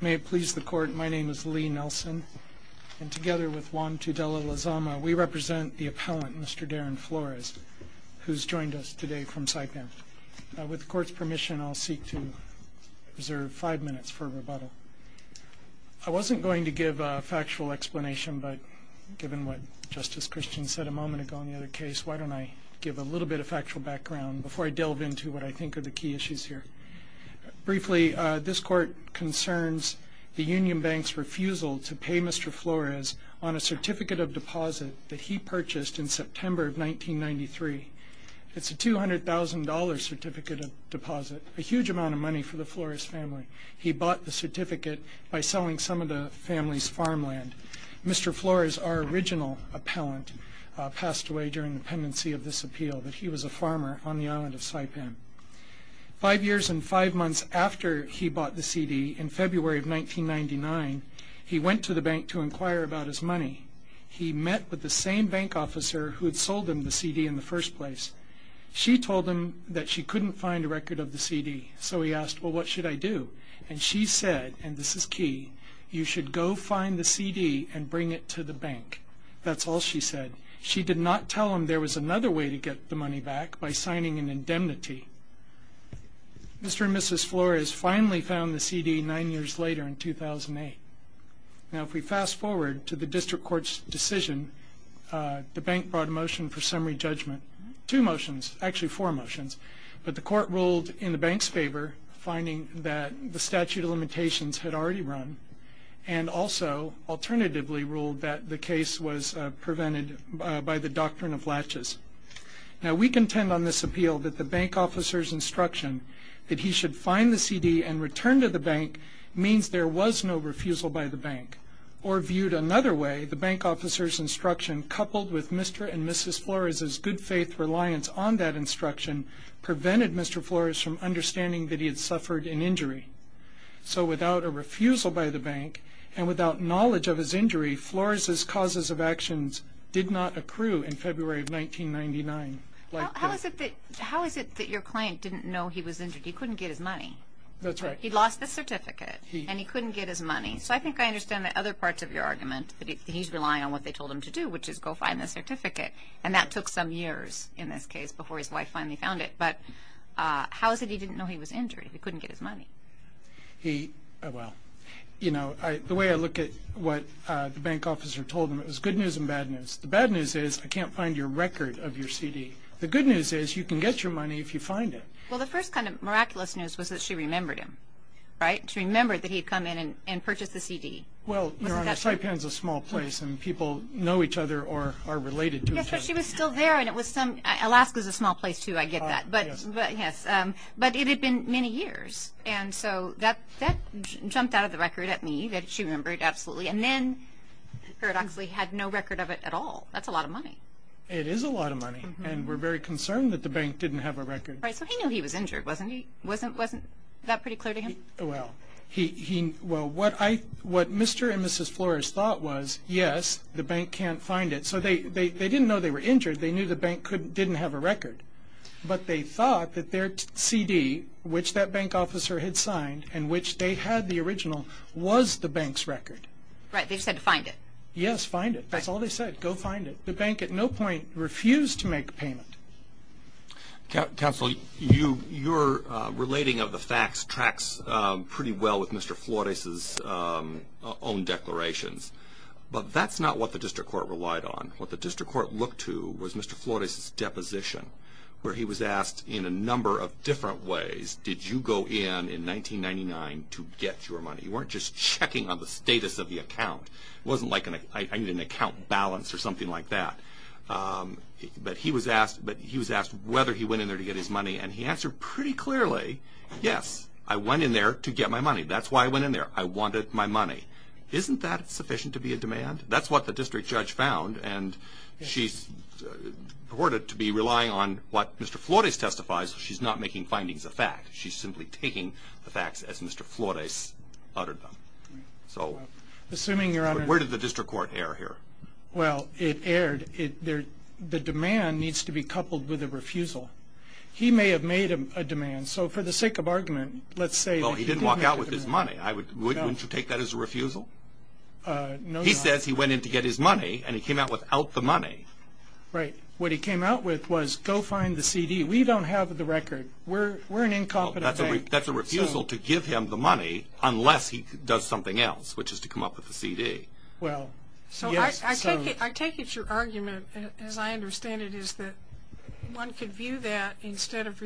May it please the Court, my name is Lee Nelson, and together with Juan Tudela-Lazama, we represent the appellant, Mr. Darren Flores, who's joined us today from Saipan. With the Court's permission, I'll seek to reserve five minutes for rebuttal. I wasn't going to give a factual explanation, but given what Justice Christian said a moment ago in the other case, why don't I give a little bit of factual background before I delve into what I think are the key issues here. Briefly, this Court concerns the Union Bank's refusal to pay Mr. Flores on a certificate of deposit that he purchased in September of 1993. It's a $200,000 certificate of deposit, a huge amount of money for the Flores family. He bought the certificate by selling some of the family's farmland. Mr. Flores, our original appellant, passed away during the appeal, but he was a farmer on the island of Saipan. Five years and five months after he bought the CD, in February of 1999, he went to the bank to inquire about his money. He met with the same bank officer who had sold him the CD in the first place. She told him that she couldn't find a record of the CD, so he asked, well, what should I do? And she said, and this is key, you should go find the CD and bring it to the bank. That's all she said. She did not tell him there was another way to get the money back, by signing an indemnity. Mr. and Mrs. Flores finally found the CD nine years later, in 2008. Now, if we fast forward to the District Court's decision, the bank brought a motion for summary judgment, two motions, actually four motions. But the Court ruled in the bank's favor, finding that the statute of limitations had already run, and also, alternatively, ruled that the doctrine of latches. Now, we contend on this appeal that the bank officer's instruction that he should find the CD and return to the bank means there was no refusal by the bank. Or viewed another way, the bank officer's instruction, coupled with Mr. and Mrs. Flores's good faith reliance on that instruction, prevented Mr. Flores from understanding that he had suffered an injury. So without a refusal by the bank, and without knowledge of his injury, Flores's causes of actions did not accrue in February of 1999. How is it that your client didn't know he was injured? He couldn't get his money. That's right. He lost the certificate, and he couldn't get his money. So I think I understand that other parts of your argument, that he's relying on what they told him to do, which is go find the certificate. And that took some years, in this case, before his wife finally found it. But how is it he didn't know he was injured? He couldn't get his money. He, well, you know, the way I look at what the bank officer told him, it was good news and bad news. The bad news is, I can't find your record of your CD. The good news is, you can get your money if you find it. Well, the first kind of miraculous news was that she remembered him, right? She remembered that he'd come in and purchased the CD. Well, Your Honor, Saipan's a small place, and people know each other or are related to each other. Yes, but she was still there, and it was some, Alaska's a small place, too, I get that. But, yes, but it had been many years, and so that jumped out of the record at me, that she remembered absolutely. And then, paradoxically, had no record of it at all. That's a lot of money. It is a lot of money, and we're very concerned that the bank didn't have a record. Right, so he knew he was injured, wasn't he? Wasn't that pretty clear to him? Well, he, well, what I, what Mr. and Mrs. Flores thought was, yes, the bank can't find it. So they didn't know they were injured. They knew the bank didn't have a record. But they thought that their CD, which that bank officer had signed, and which they had the original, was the bank's record. Right, they said find it. Yes, find it. That's all they said, go find it. The bank at no point refused to make a payment. Counsel, you, your relating of the facts tracks pretty well with Mr. Flores' own declarations. But that's not what the district court relied on. What the district court looked to was Mr. Flores' deposition, where he was asked in a number of different ways, did you go in in 1999 to get your money? You weren't just checking on the status of the account. It wasn't like an, I need an account balance or something like that. But he was asked, but he was asked whether he went in there to get his money, and he answered pretty clearly, yes, I went in there to get my money. That's why I went in there. I wanted my money. Isn't that sufficient to be a demand? That's what the district judge found, and she's reported to be relying on what Mr. Flores testifies. She's not making findings of fact. She's simply taking the facts as Mr. Flores uttered them. So, where did the district court err here? Well, it erred. The demand needs to be coupled with a refusal. He may have made a demand, so for the sake of argument, let's say that he did make a demand. He went in to get his money. Wouldn't you take that as a refusal? No, Your Honor. He says he went in to get his money, and he came out without the money. Right. What he came out with was, go find the CD. We don't have the record. We're an incompetent bank. That's a refusal to give him the money unless he does something else, which is to come up with the CD. Well, so I take it your argument, as I understand it, is that one could view that, instead of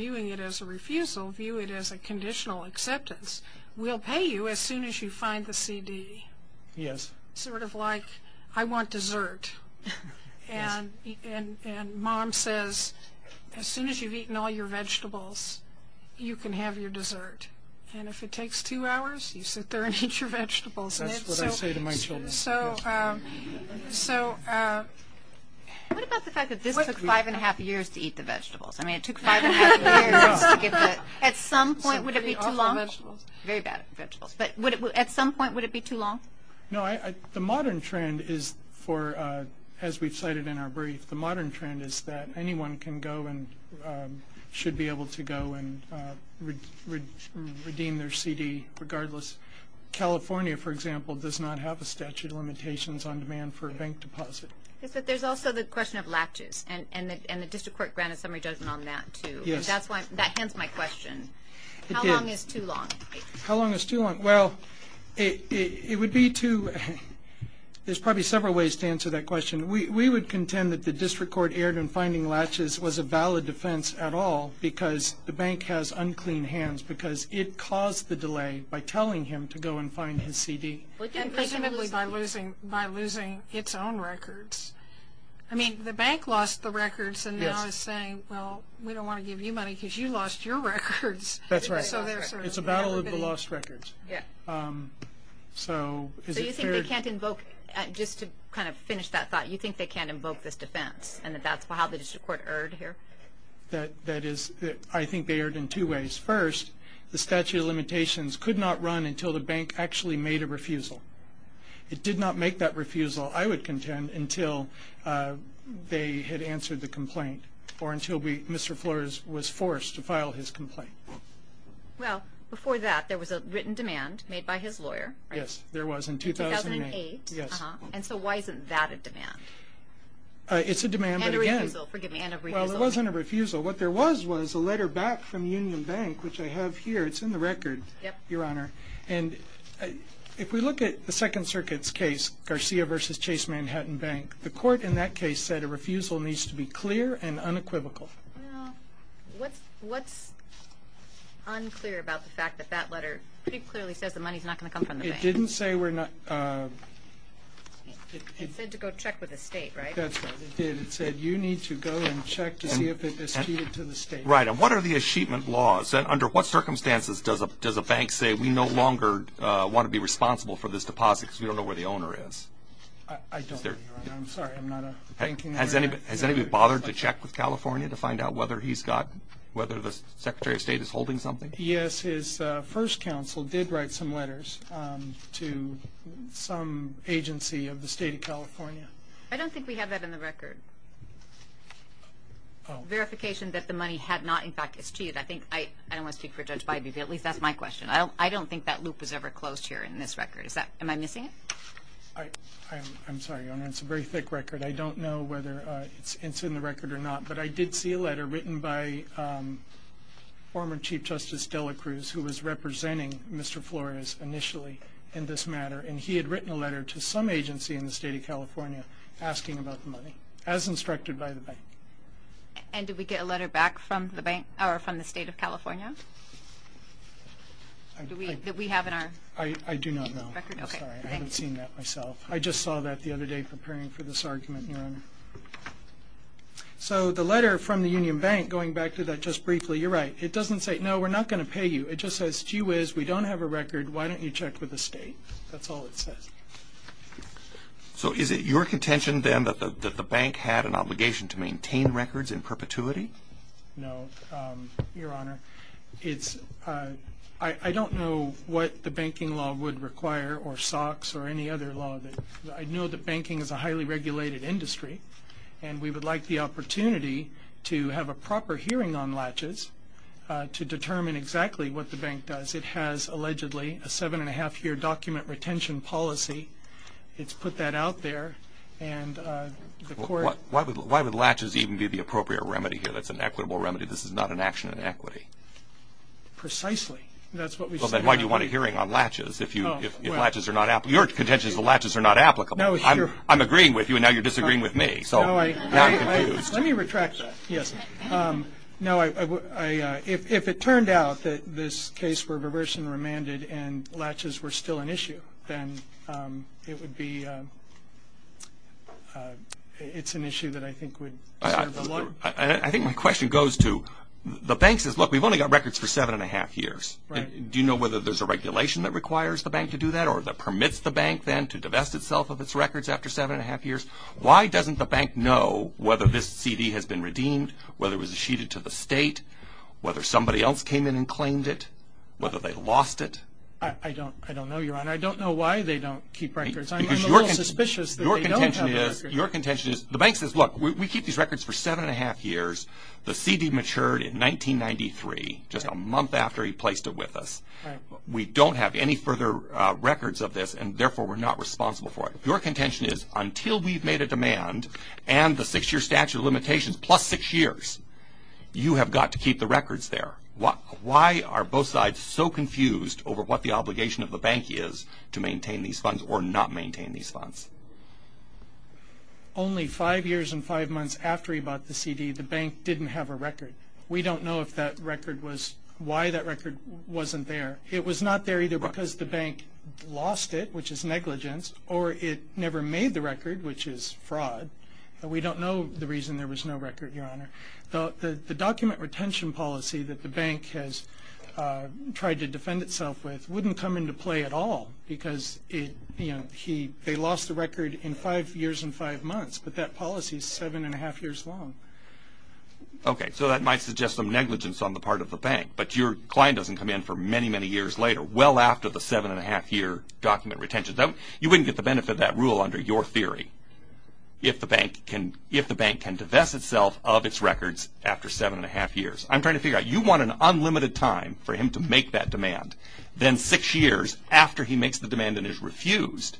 you find the CD. Yes. Sort of like, I want dessert, and mom says, as soon as you've eaten all your vegetables, you can have your dessert. And if it takes two hours, you sit there and eat your vegetables. That's what I say to my children. So, so... What about the fact that this took five and a half years to eat the vegetables? I mean, it took five and a half years to get the... At some point, would it be too long? Very bad vegetables. Very bad vegetables. But at some point, would it be too long? No, the modern trend is for, as we've cited in our brief, the modern trend is that anyone can go and should be able to go and redeem their CD regardless. California, for example, does not have a statute of limitations on demand for a bank deposit. Yes, but there's also the question of latches, and the district court granted summary judgment on that, too. Yes. That's why, that ends my question. How long is too long? How long is too long? Well, it would be too, there's probably several ways to answer that question. We would contend that the district court erred in finding latches was a valid defense at all, because the bank has unclean hands, because it caused the delay by telling him to go and find his CD. And presumably by losing, by losing its own records. I mean, the bank lost the records and now is saying, well, we don't want to give you money because you lost your records. That's right. It's a battle of the lost records. Yeah. So is it fair? So you think they can't invoke, just to kind of finish that thought, you think they can't invoke this defense, and that's how the district court erred here? That is, I think they erred in two ways. First, the statute of limitations could not run until the bank actually made a refusal. It did not make that refusal, I would contend, until they had answered the complaint, or until Mr. Flores was forced to file his complaint. Well, before that, there was a written demand made by his lawyer. Yes, there was in 2008. In 2008. Yes. And so why isn't that a demand? It's a demand, but again. And a refusal. Forgive me, and a refusal. Well, it wasn't a refusal. What there was, was a letter back from Union Bank, which I have here. It's in the record, Your Honor. Yep. And if we look at the Second Circuit's case, Garcia v. Chase Manhattan Bank, the court in that case said a refusal needs to be clear and unequivocal. Well, what's unclear about the fact that that letter pretty clearly says the money's not going to come from the bank? It didn't say we're not. It said to go check with the state, right? That's what it did. It said, you need to go and check to see if it is treated to the state. Right. And what are the achievement laws? Under what circumstances does a bank say, we no longer want to be responsible for this deposit because we don't know where the owner is? I don't, Your Honor. I'm sorry. I'm not a banking lawyer. Has anybody bothered to check with California to find out whether he's got, whether the Secretary of State is holding something? Yes. His first counsel did write some letters to some agency of the state of California. I don't think we have that in the record. Oh. Just for clarification, that the money had not, in fact, it's cheated. I think, I don't want to speak for Judge Biden, but at least that's my question. I don't think that loop was ever closed here in this record. Is that, am I missing it? I'm sorry, Your Honor. It's a very thick record. I don't know whether it's in the record or not, but I did see a letter written by former Chief Justice Dela Cruz, who was representing Mr. Flores initially in this matter, and he had written a letter to some agency in the And did we get a letter back from the bank, or from the state of California that we have in our record? I do not know. Sorry. I haven't seen that myself. I just saw that the other day preparing for this argument, Your Honor. So the letter from the Union Bank, going back to that just briefly, you're right. It doesn't say, no, we're not going to pay you. It just says, gee whiz, we don't have a record. Why don't you check with the state? That's all it says. So is it your contention, then, that the bank had an obligation to maintain records in perpetuity? No, Your Honor. I don't know what the banking law would require, or SOX, or any other law. I know that banking is a highly regulated industry, and we would like the opportunity to have a proper hearing on latches to determine exactly what the bank does. It has, allegedly, a seven-and-a-half-year document retention policy. It's put that out there. Why would latches even be the appropriate remedy here? That's an equitable remedy. This is not an action in equity. Precisely. That's what we said. Well, then why do you want a hearing on latches if latches are not applicable? Your contention is the latches are not applicable. I'm agreeing with you, and now you're disagreeing with me. So now I'm confused. Let me retract that. Yes. No, if it turned out that this case were reversed and remanded and latches were still an issue, then it would be – it's an issue that I think would serve the law. I think my question goes to – the bank says, look, we've only got records for seven-and-a-half years. Do you know whether there's a regulation that requires the bank to do that or that permits the bank, then, to divest itself of its records after seven-and-a-half years? Why doesn't the bank know whether this CD has been redeemed, whether it was issued to the state, whether somebody else came in and claimed it, whether they lost it? I don't know, Your Honor. I don't know why they don't keep records. I'm a little suspicious that they don't have the records. Your contention is – the bank says, look, we keep these records for seven-and-a-half years. The CD matured in 1993, just a month after he placed it with us. We don't have any further records of this, and therefore we're not responsible for it. Your contention is, until we've made a demand and the six-year statute of limitations, plus six years, you have got to keep the records there. Why are both sides so confused over what the obligation of the bank is to maintain these funds or not maintain these funds? Only five years and five months after he bought the CD, the bank didn't have a record. We don't know if that record was – why that record wasn't there. It was not there either because the bank lost it, which is negligence, or it never made the record, which is fraud. We don't know the reason there was no record, Your Honor. The document retention policy that the bank has tried to defend itself with wouldn't come into play at all because they lost the record in five years and five months, but that policy is seven-and-a-half years long. Okay, so that might suggest some negligence on the part of the bank, but your client doesn't come in for many, many years later, well after the seven-and-a-half-year document retention. You wouldn't get the benefit of that rule under your theory if the bank can divest itself of its records after seven-and-a-half years. I'm trying to figure out, you want an unlimited time for him to make that demand, then six years after he makes the demand and is refused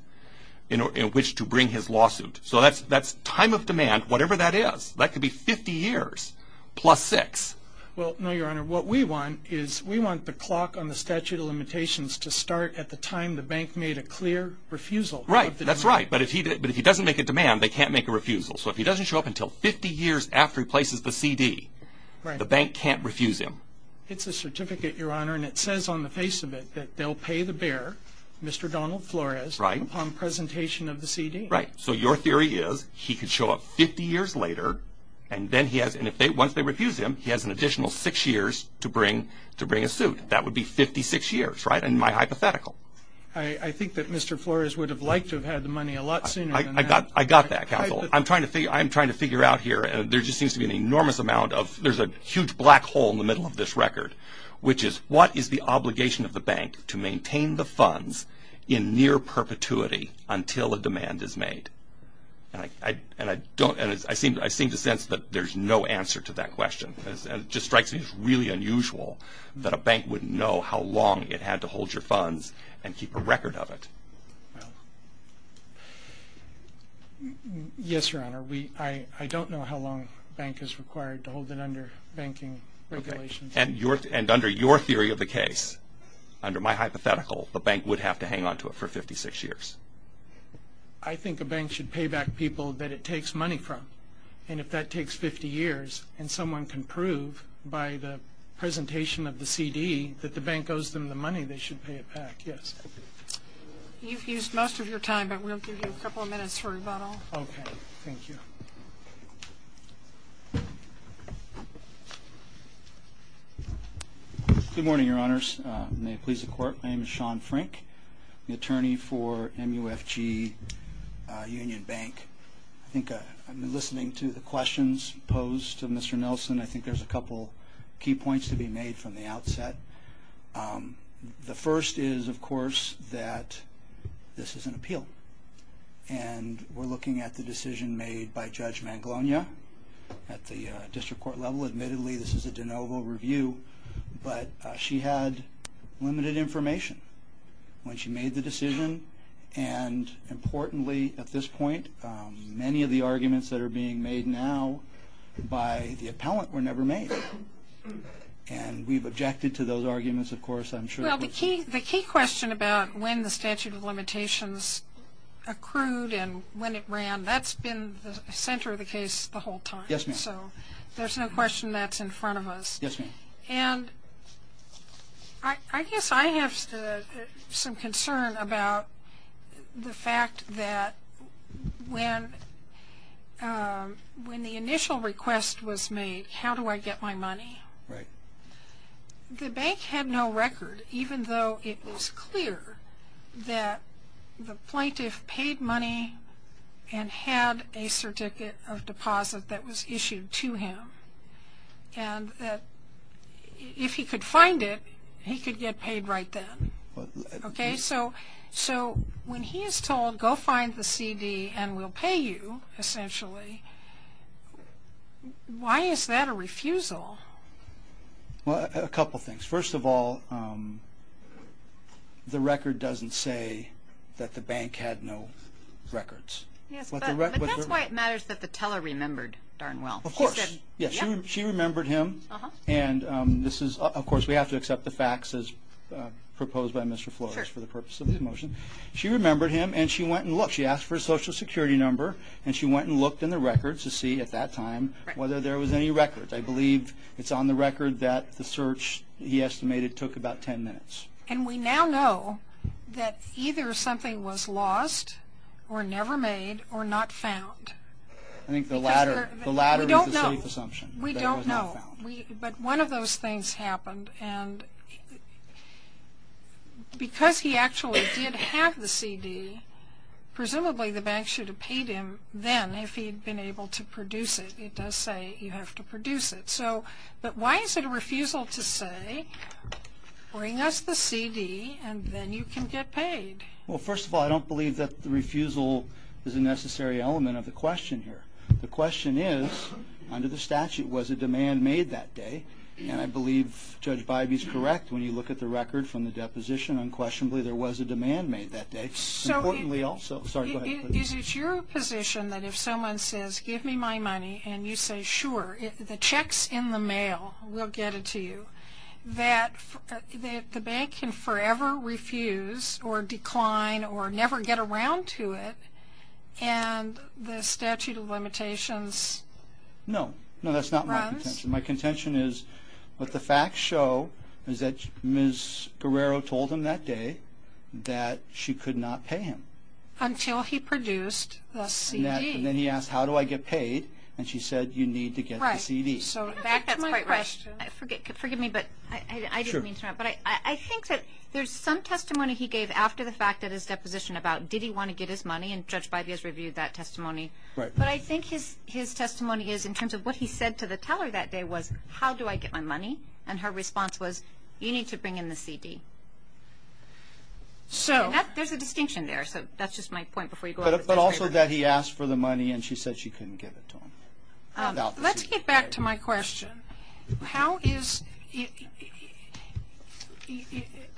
in which to bring his lawsuit. So that's time of demand, whatever that is. That could be 50 years plus six. Well, no, Your Honor, what we want is we want the clock on the statute of limitations to start at the time the bank made a clear refusal. Right, that's right, but if he doesn't make a demand, they can't make a refusal. So if he doesn't show up until 50 years after he places the CD, the bank can't refuse him. It's a certificate, Your Honor, and it says on the face of it that they'll pay the bearer, Mr. Donald Flores, upon presentation of the CD. Right, so your theory is he could show up 50 years later, and once they refuse him, he has an additional six years to bring a suit. That would be 56 years, right, in my hypothetical. I think that Mr. Flores would have liked to have had the money a lot sooner than that. I got that, counsel. I'm trying to figure out here. There just seems to be an enormous amount of – there's a huge black hole in the middle of this record, which is what is the obligation of the bank to maintain the funds in near perpetuity until a demand is made? And I don't – I seem to sense that there's no answer to that question. It just strikes me as really unusual that a bank wouldn't know how long it had to hold your funds and keep a record of it. Yes, Your Honor, I don't know how long a bank is required to hold it under banking regulations. And under your theory of the case, under my hypothetical, the bank would have to hang on to it for 56 years. I think a bank should pay back people that it takes money from. And if that takes 50 years and someone can prove by the presentation of the CD that the bank owes them the money, they should pay it back, yes. You've used most of your time, but we'll give you a couple of minutes for rebuttal. Okay, thank you. Good morning, Your Honors. May it please the Court, my name is Sean Frank, the attorney for MUFG Union Bank. I think I've been listening to the questions posed to Mr. Nelson. I think there's a couple key points to be made from the outset. The first is, of course, that this is an appeal. And we're looking at the decision made by Judge Mangalonia at the district court level. Admittedly, this is a de novo review, but she had limited information when she made the decision. And importantly, at this point, many of the arguments that are being made now by the appellant were never made. And we've objected to those arguments, of course, I'm sure. Well, the key question about when the statute of limitations accrued and when it ran, that's been the center of the case the whole time. Yes, ma'am. So there's no question that's in front of us. Yes, ma'am. And I guess I have some concern about the fact that when the initial request was made, how do I get my money? Right. The bank had no record, even though it was clear that the plaintiff paid money and had a certificate of deposit that was issued to him. And if he could find it, he could get paid right then. Okay? So when he is told, go find the CD and we'll pay you, essentially, why is that a refusal? Well, a couple things. First of all, the record doesn't say that the bank had no records. Yes, but that's why it matters that the teller remembered darn well. Of course. Yes, she remembered him. And this is, of course, we have to accept the facts as proposed by Mr. Flores for the purpose of this motion. She remembered him and she went and looked. She asked for a Social Security number and she went and looked in the records to see at that time whether there was any records. I believe it's on the record that the search, he estimated, took about ten minutes. And we now know that either something was lost or never made or not found. I think the latter is a safe assumption. We don't know. But one of those things happened. And because he actually did have the CD, presumably the bank should have paid him then if he had been able to produce it. It does say you have to produce it. But why is it a refusal to say, bring us the CD and then you can get paid? Well, first of all, I don't believe that the refusal is a necessary element of the question here. The question is, under the statute, was a demand made that day? And I believe Judge Bybee is correct. When you look at the record from the deposition, unquestionably there was a demand made that day. Importantly also, sorry, go ahead. Is it your position that if someone says, give me my money, and you say, sure, the check's in the mail, we'll get it to you, that the bank can forever refuse or decline or never get around to it and the statute of limitations runs? No. No, that's not my contention. My contention is what the facts show is that Ms. Guerrero told him that day that she could not pay him. Until he produced the CD. And then he asked, how do I get paid? And she said, you need to get the CD. Right. So back to my question. Forgive me, but I didn't mean to interrupt. But I think that there's some testimony he gave after the fact at his deposition about did he want to get his money, and Judge Bybee has reviewed that testimony. But I think his testimony is in terms of what he said to the teller that day was, how do I get my money? And her response was, you need to bring in the CD. There's a distinction there. So that's just my point before you go on. But also that he asked for the money, and she said she couldn't give it to him. Let's get back to my question.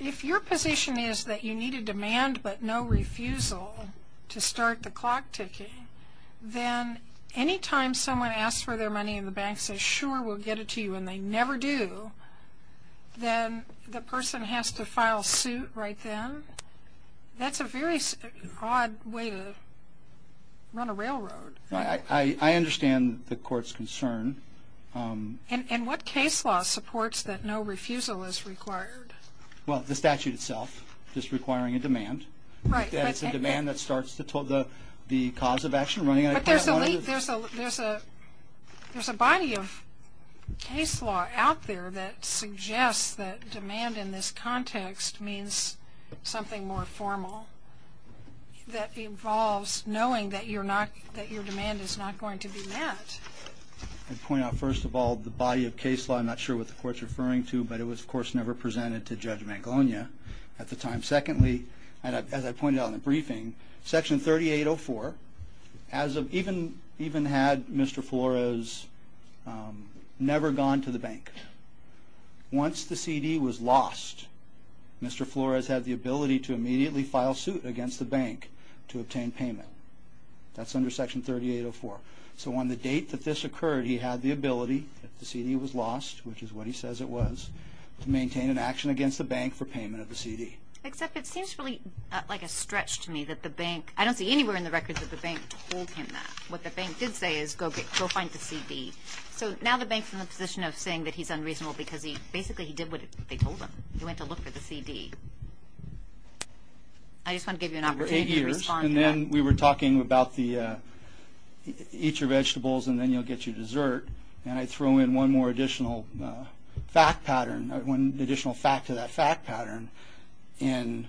If your position is that you need a demand but no refusal to start the clock ticking, then any time someone asks for their money and the bank says, sure, we'll get it to you, and they never do, then the person has to file suit right then. That's a very odd way to run a railroad. I understand the court's concern. And what case law supports that no refusal is required? Well, the statute itself, just requiring a demand. It's a demand that starts the cause of action running. But there's a body of case law out there that suggests that demand in this context means something more formal that involves knowing that your demand is not going to be met. I'd point out, first of all, the body of case law, I'm not sure what the court's referring to, but it was, of course, never presented to Judge Mangalonia at the time. Secondly, as I pointed out in the briefing, Section 3804, even had Mr. Flores never gone to the bank, once the CD was lost, Mr. Flores had the ability to immediately file suit against the bank to obtain payment. That's under Section 3804. So on the date that this occurred, he had the ability, if the CD was lost, which is what he says it was, to maintain an action against the bank for payment of the CD. Except it seems really like a stretch to me that the bank, I don't see anywhere in the records that the bank told him that. So now the bank's in the position of saying that he's unreasonable because basically he did what they told him. He went to look for the CD. I just want to give you an opportunity to respond to that. For eight years, and then we were talking about the eat your vegetables and then you'll get your dessert, and I throw in one more additional fact pattern, one additional fact to that fact pattern. In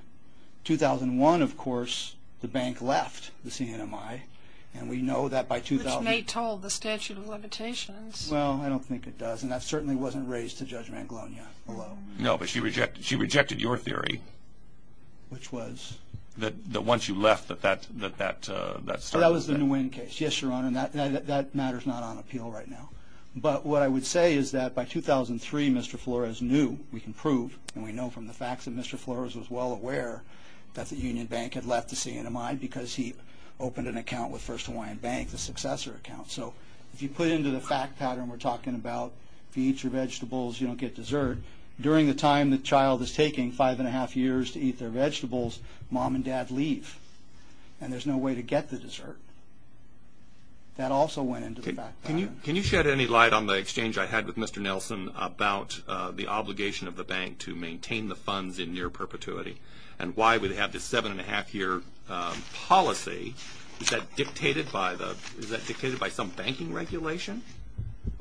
2001, of course, the bank left the CNMI, and we know that by 2000... Which may have told the statute of limitations. Well, I don't think it does, and that certainly wasn't raised to Judge Manglonia below. No, but she rejected your theory. Which was? That once you left, that that started... That was the Nguyen case. Yes, Your Honor, and that matter's not on appeal right now. But what I would say is that by 2003, Mr. Flores knew, we can prove, and we know from the facts that Mr. Flores was well aware that the Union Bank had left the CNMI because he opened an account with First Hawaiian Bank, the successor account. So if you put into the fact pattern we're talking about, if you eat your vegetables, you don't get dessert, during the time the child is taking, five and a half years to eat their vegetables, mom and dad leave, and there's no way to get the dessert. That also went into the fact pattern. Can you shed any light on the exchange I had with Mr. Nelson about the obligation of the bank to maintain the funds in near perpetuity, and why would they have this seven and a half year policy? Is that dictated by some banking regulation?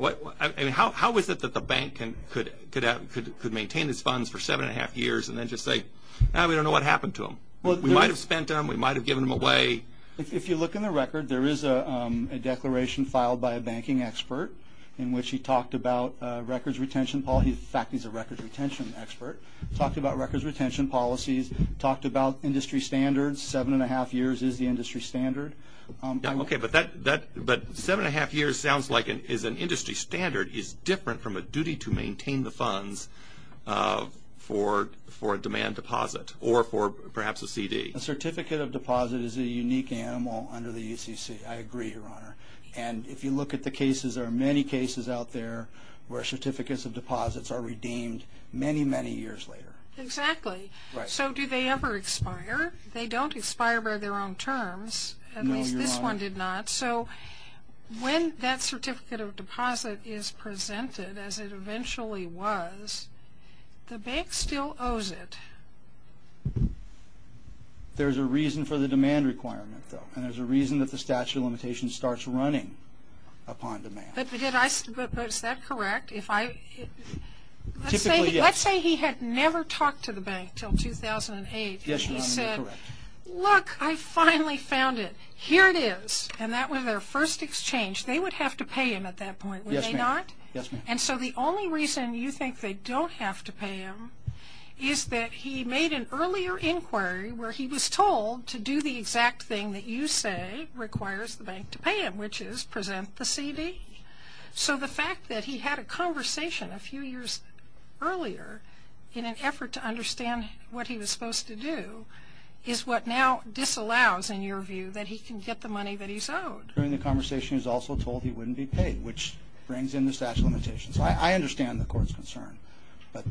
How is it that the bank could maintain its funds for seven and a half years and then just say, no, we don't know what happened to them? We might have spent them, we might have given them away. If you look in the record, there is a declaration filed by a banking expert in which he talked about records retention policy. In fact, he's a records retention expert. He talked about records retention policies, talked about industry standards, seven and a half years is the industry standard. Okay, but seven and a half years sounds like is an industry standard, is different from a duty to maintain the funds for a demand deposit or for perhaps a CD. A certificate of deposit is a unique animal under the ECC, I agree, Your Honor. And if you look at the cases, there are many cases out there where certificates of deposits are redeemed many, many years later. Exactly. Right. So do they ever expire? They don't expire by their own terms. No, Your Honor. At least this one did not. So when that certificate of deposit is presented as it eventually was, the bank still owes it. There's a reason for the demand requirement, though, and there's a reason that the statute of limitations starts running upon demand. But is that correct? Typically, yes. Let's say he had never talked to the bank until 2008. Yes, Your Honor, you're correct. He said, look, I finally found it. Here it is. And that was their first exchange. They would have to pay him at that point, would they not? Yes, ma'am. And so the only reason you think they don't have to pay him is that he made an earlier inquiry where he was told to do the exact thing that you say requires the bank to pay him, which is present the CD. So the fact that he had a conversation a few years earlier in an effort to understand what he was supposed to do is what now disallows, in your view, that he can get the money that he's owed. During the conversation, he was also told he wouldn't be paid, which brings in the statute of limitations. I understand the Court's concern, but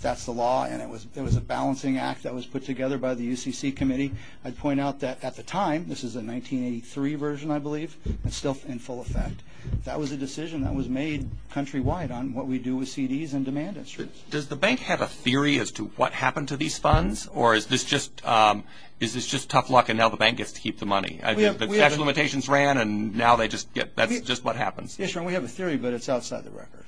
that's the law, and it was a balancing act that was put together by the UCC Committee. I'd point out that at the time, this is a 1983 version, I believe, and still in full effect, that was a decision that was made countrywide on what we do with CDs and demand instruments. Does the bank have a theory as to what happened to these funds, or is this just tough luck and now the bank gets to keep the money? The statute of limitations ran, and now that's just what happens. Yes, Your Honor, we have a theory, but it's outside the record.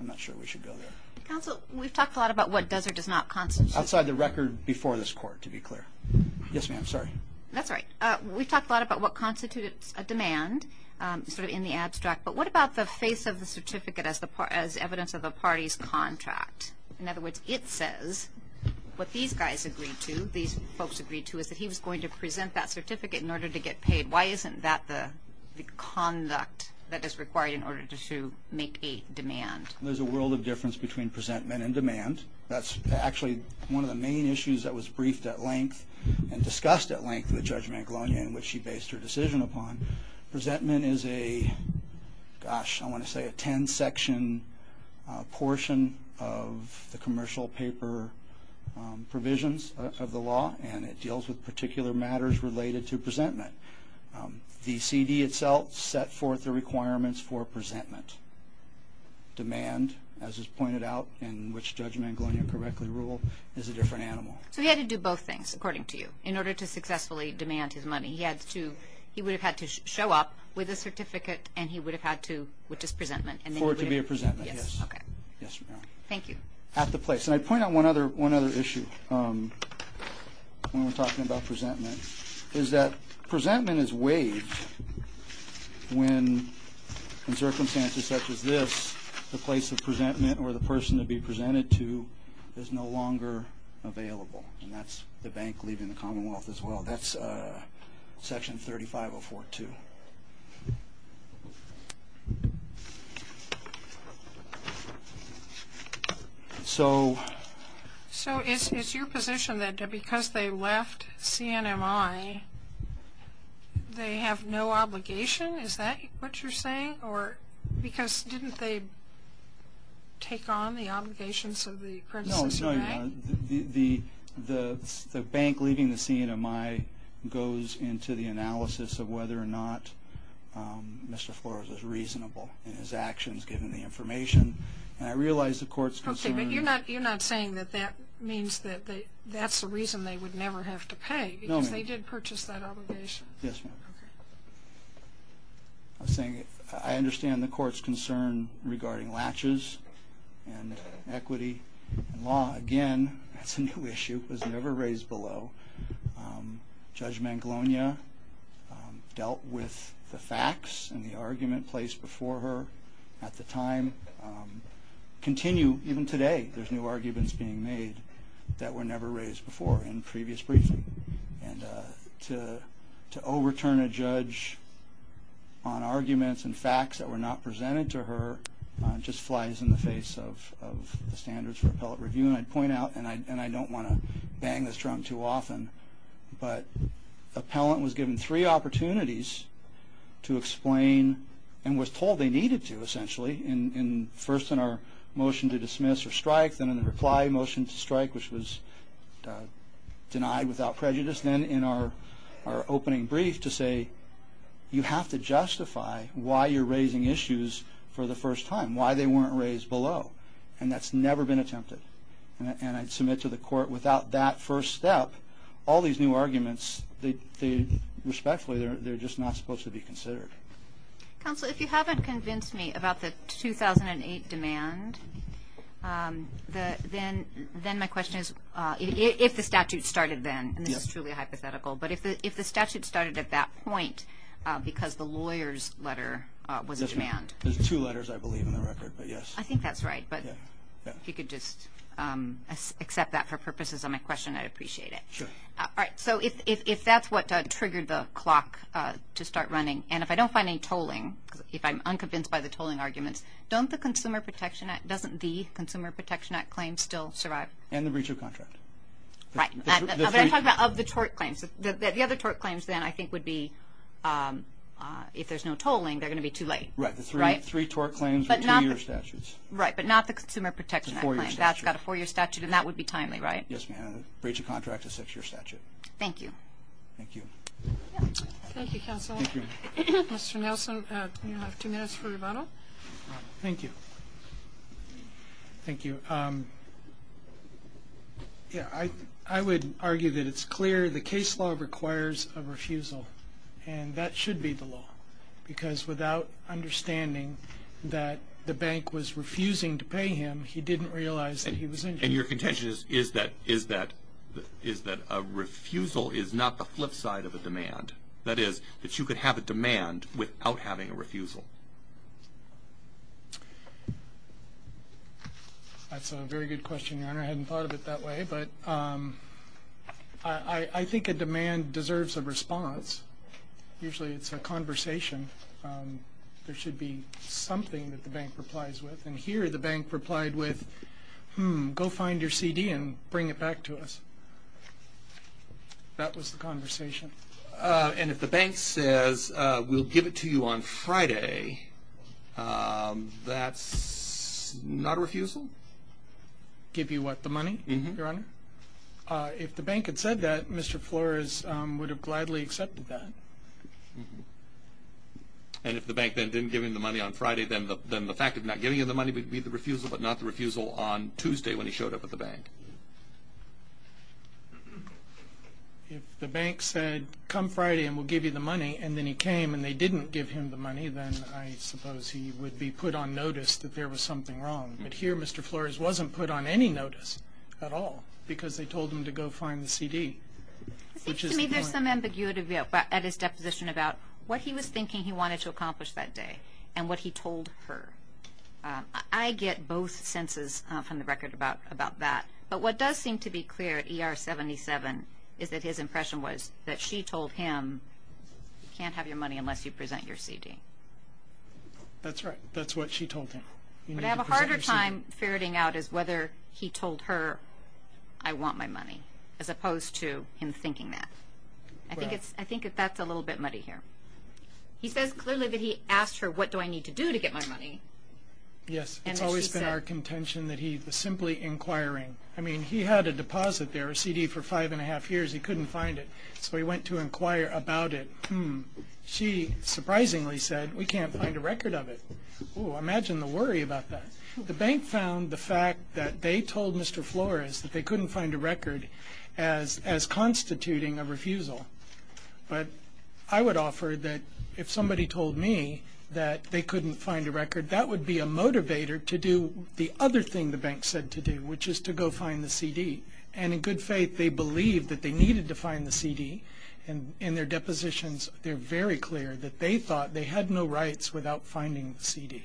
I'm not sure we should go there. Counsel, we've talked a lot about what does or does not constitute... Outside the record before this Court, to be clear. Yes, ma'am, sorry. That's all right. We've talked a lot about what constitutes a demand, sort of in the abstract, but what about the face of the certificate as evidence of a party's contract? In other words, it says what these guys agreed to, these folks agreed to, is that he was going to present that certificate in order to get paid. Why isn't that the conduct that is required in order to make a demand? There's a world of difference between presentment and demand. That's actually one of the main issues that was briefed at length and discussed at length with Judge Mangalonia in which she based her decision upon. Presentment is a, gosh, I want to say a 10-section portion of the commercial paper provisions of the law, and it deals with particular matters related to presentment. The CD itself set forth the requirements for presentment. Demand, as is pointed out, in which Judge Mangalonia correctly ruled, is a different animal. So he had to do both things, according to you, in order to successfully demand his money. He would have had to show up with a certificate, which is presentment. For it to be a presentment, yes. Okay. Yes, ma'am. Thank you. At the place. And I'd point out one other issue when we're talking about presentment, is that presentment is waived when, in circumstances such as this, the place of presentment or the person to be presented to is no longer available. And that's the bank leaving the Commonwealth as well. That's Section 35042. So. So it's your position that because they left CNMI, they have no obligation? Is that what you're saying? Or because didn't they take on the obligations of the criticism of the bank? The bank leaving the CNMI goes into the analysis of whether or not Mr. Flores is reasonable in his actions, given the information. And I realize the court's concern. Okay. But you're not saying that that means that that's the reason they would never have to pay. No, ma'am. Because they did purchase that obligation. Yes, ma'am. Okay. I understand the court's concern regarding latches and equity and law. Again, that's a new issue. It was never raised below. Judge Manglonia dealt with the facts and the argument placed before her at the time. Continue even today. There's new arguments being made that were never raised before in previous briefings. And to overturn a judge on arguments and facts that were not presented to her just flies in the face of the standards for appellate review. And I'd point out, and I don't want to bang this drum too often, but an appellant was given three opportunities to explain and was told they needed to, essentially. First in our motion to dismiss or strike, then in the reply motion to strike, which was denied without prejudice, then in our opening brief to say, you have to justify why you're raising issues for the first time, why they weren't raised below. And that's never been attempted. And I'd submit to the court, without that first step, all these new arguments, respectfully, they're just not supposed to be considered. Counsel, if you haven't convinced me about the 2008 demand, then my question is, if the statute started then, and this is truly hypothetical, but if the statute started at that point because the lawyer's letter was in demand. There's two letters, I believe, in the record, but yes. I think that's right. But if you could just accept that for purposes of my question, I'd appreciate it. Sure. All right. So if that's what triggered the clock to start running, and if I don't find any tolling, if I'm unconvinced by the tolling arguments, doesn't the Consumer Protection Act claim still survive? And the breach of contract. Right. I'm talking about of the tort claims. The other tort claims, then, I think would be if there's no tolling, they're going to be too late. Right. The three tort claims with two-year statutes. Right, but not the Consumer Protection Act claim. That's got a four-year statute, and that would be timely, right? Yes, ma'am. The breach of contract is a six-year statute. Thank you. Thank you. Thank you, counsel. Thank you. Mr. Nelson, you have two minutes for rebuttal. Thank you. Thank you. Yeah, I would argue that it's clear the case law requires a refusal, and that should be the law, because without understanding that the bank was refusing to pay him, he didn't realize that he was injured. And your contention is that a refusal is not the flip side of a demand, that is that you could have a demand without having a refusal. That's a very good question, Your Honor. I hadn't thought of it that way. But I think a demand deserves a response. Usually it's a conversation. There should be something that the bank replies with. And here the bank replied with, hmm, go find your CD and bring it back to us. That was the conversation. And if the bank says we'll give it to you on Friday, that's not a refusal? Give you what, the money, Your Honor? Uh-huh. If the bank had said that, Mr. Flores would have gladly accepted that. And if the bank then didn't give him the money on Friday, then the fact of not giving him the money would be the refusal, but not the refusal on Tuesday when he showed up at the bank. If the bank said, come Friday and we'll give you the money, and then he came and they didn't give him the money, then I suppose he would be put on notice that there was something wrong. But here Mr. Flores wasn't put on any notice at all because they told him to go find the CD. It seems to me there's some ambiguity at his deposition about what he was thinking he wanted to accomplish that day and what he told her. I get both senses from the record about that. But what does seem to be clear at ER 77 is that his impression was that she told him, you can't have your money unless you present your CD. That's right. That's what she told him. What I have a harder time ferreting out is whether he told her, I want my money, as opposed to him thinking that. I think that's a little bit muddy here. He says clearly that he asked her, what do I need to do to get my money? Yes, it's always been our contention that he was simply inquiring. I mean, he had a deposit there, a CD, for five and a half years. He couldn't find it. So he went to inquire about it. Hmm. She surprisingly said, we can't find a record of it. Oh, imagine the worry about that. The bank found the fact that they told Mr. Flores that they couldn't find a record as constituting a refusal. But I would offer that if somebody told me that they couldn't find a record, that would be a motivator to do the other thing the bank said to do, which is to go find the CD. And in good faith, they believed that they needed to find the CD. And in their depositions, they're very clear that they thought they had no rights without finding the CD.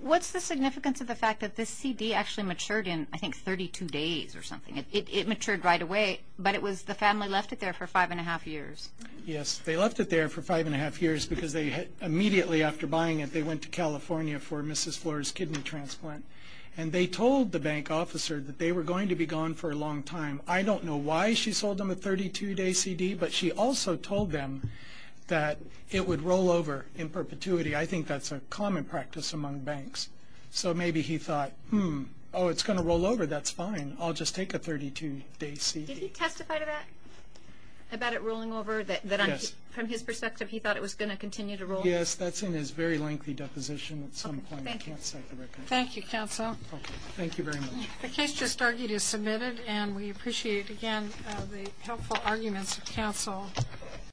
What's the significance of the fact that this CD actually matured in, I think, 32 days or something? It matured right away, but it was the family left it there for five and a half years. Yes, they left it there for five and a half years because immediately after buying it, they went to California for Mrs. Flores' kidney transplant. And they told the bank officer that they were going to be gone for a long time. I don't know why she sold them a 32-day CD, but she also told them that it would roll over in perpetuity. I think that's a common practice among banks. So maybe he thought, hmm, oh, it's going to roll over. That's fine. I'll just take a 32-day CD. Did he testify to that, about it rolling over? Yes. From his perspective, he thought it was going to continue to roll over? Yes, that's in his very lengthy deposition at some point. I can't cite the record. Thank you, counsel. Thank you very much. The case just argued is submitted, and we appreciate, again, the helpful arguments of counsel.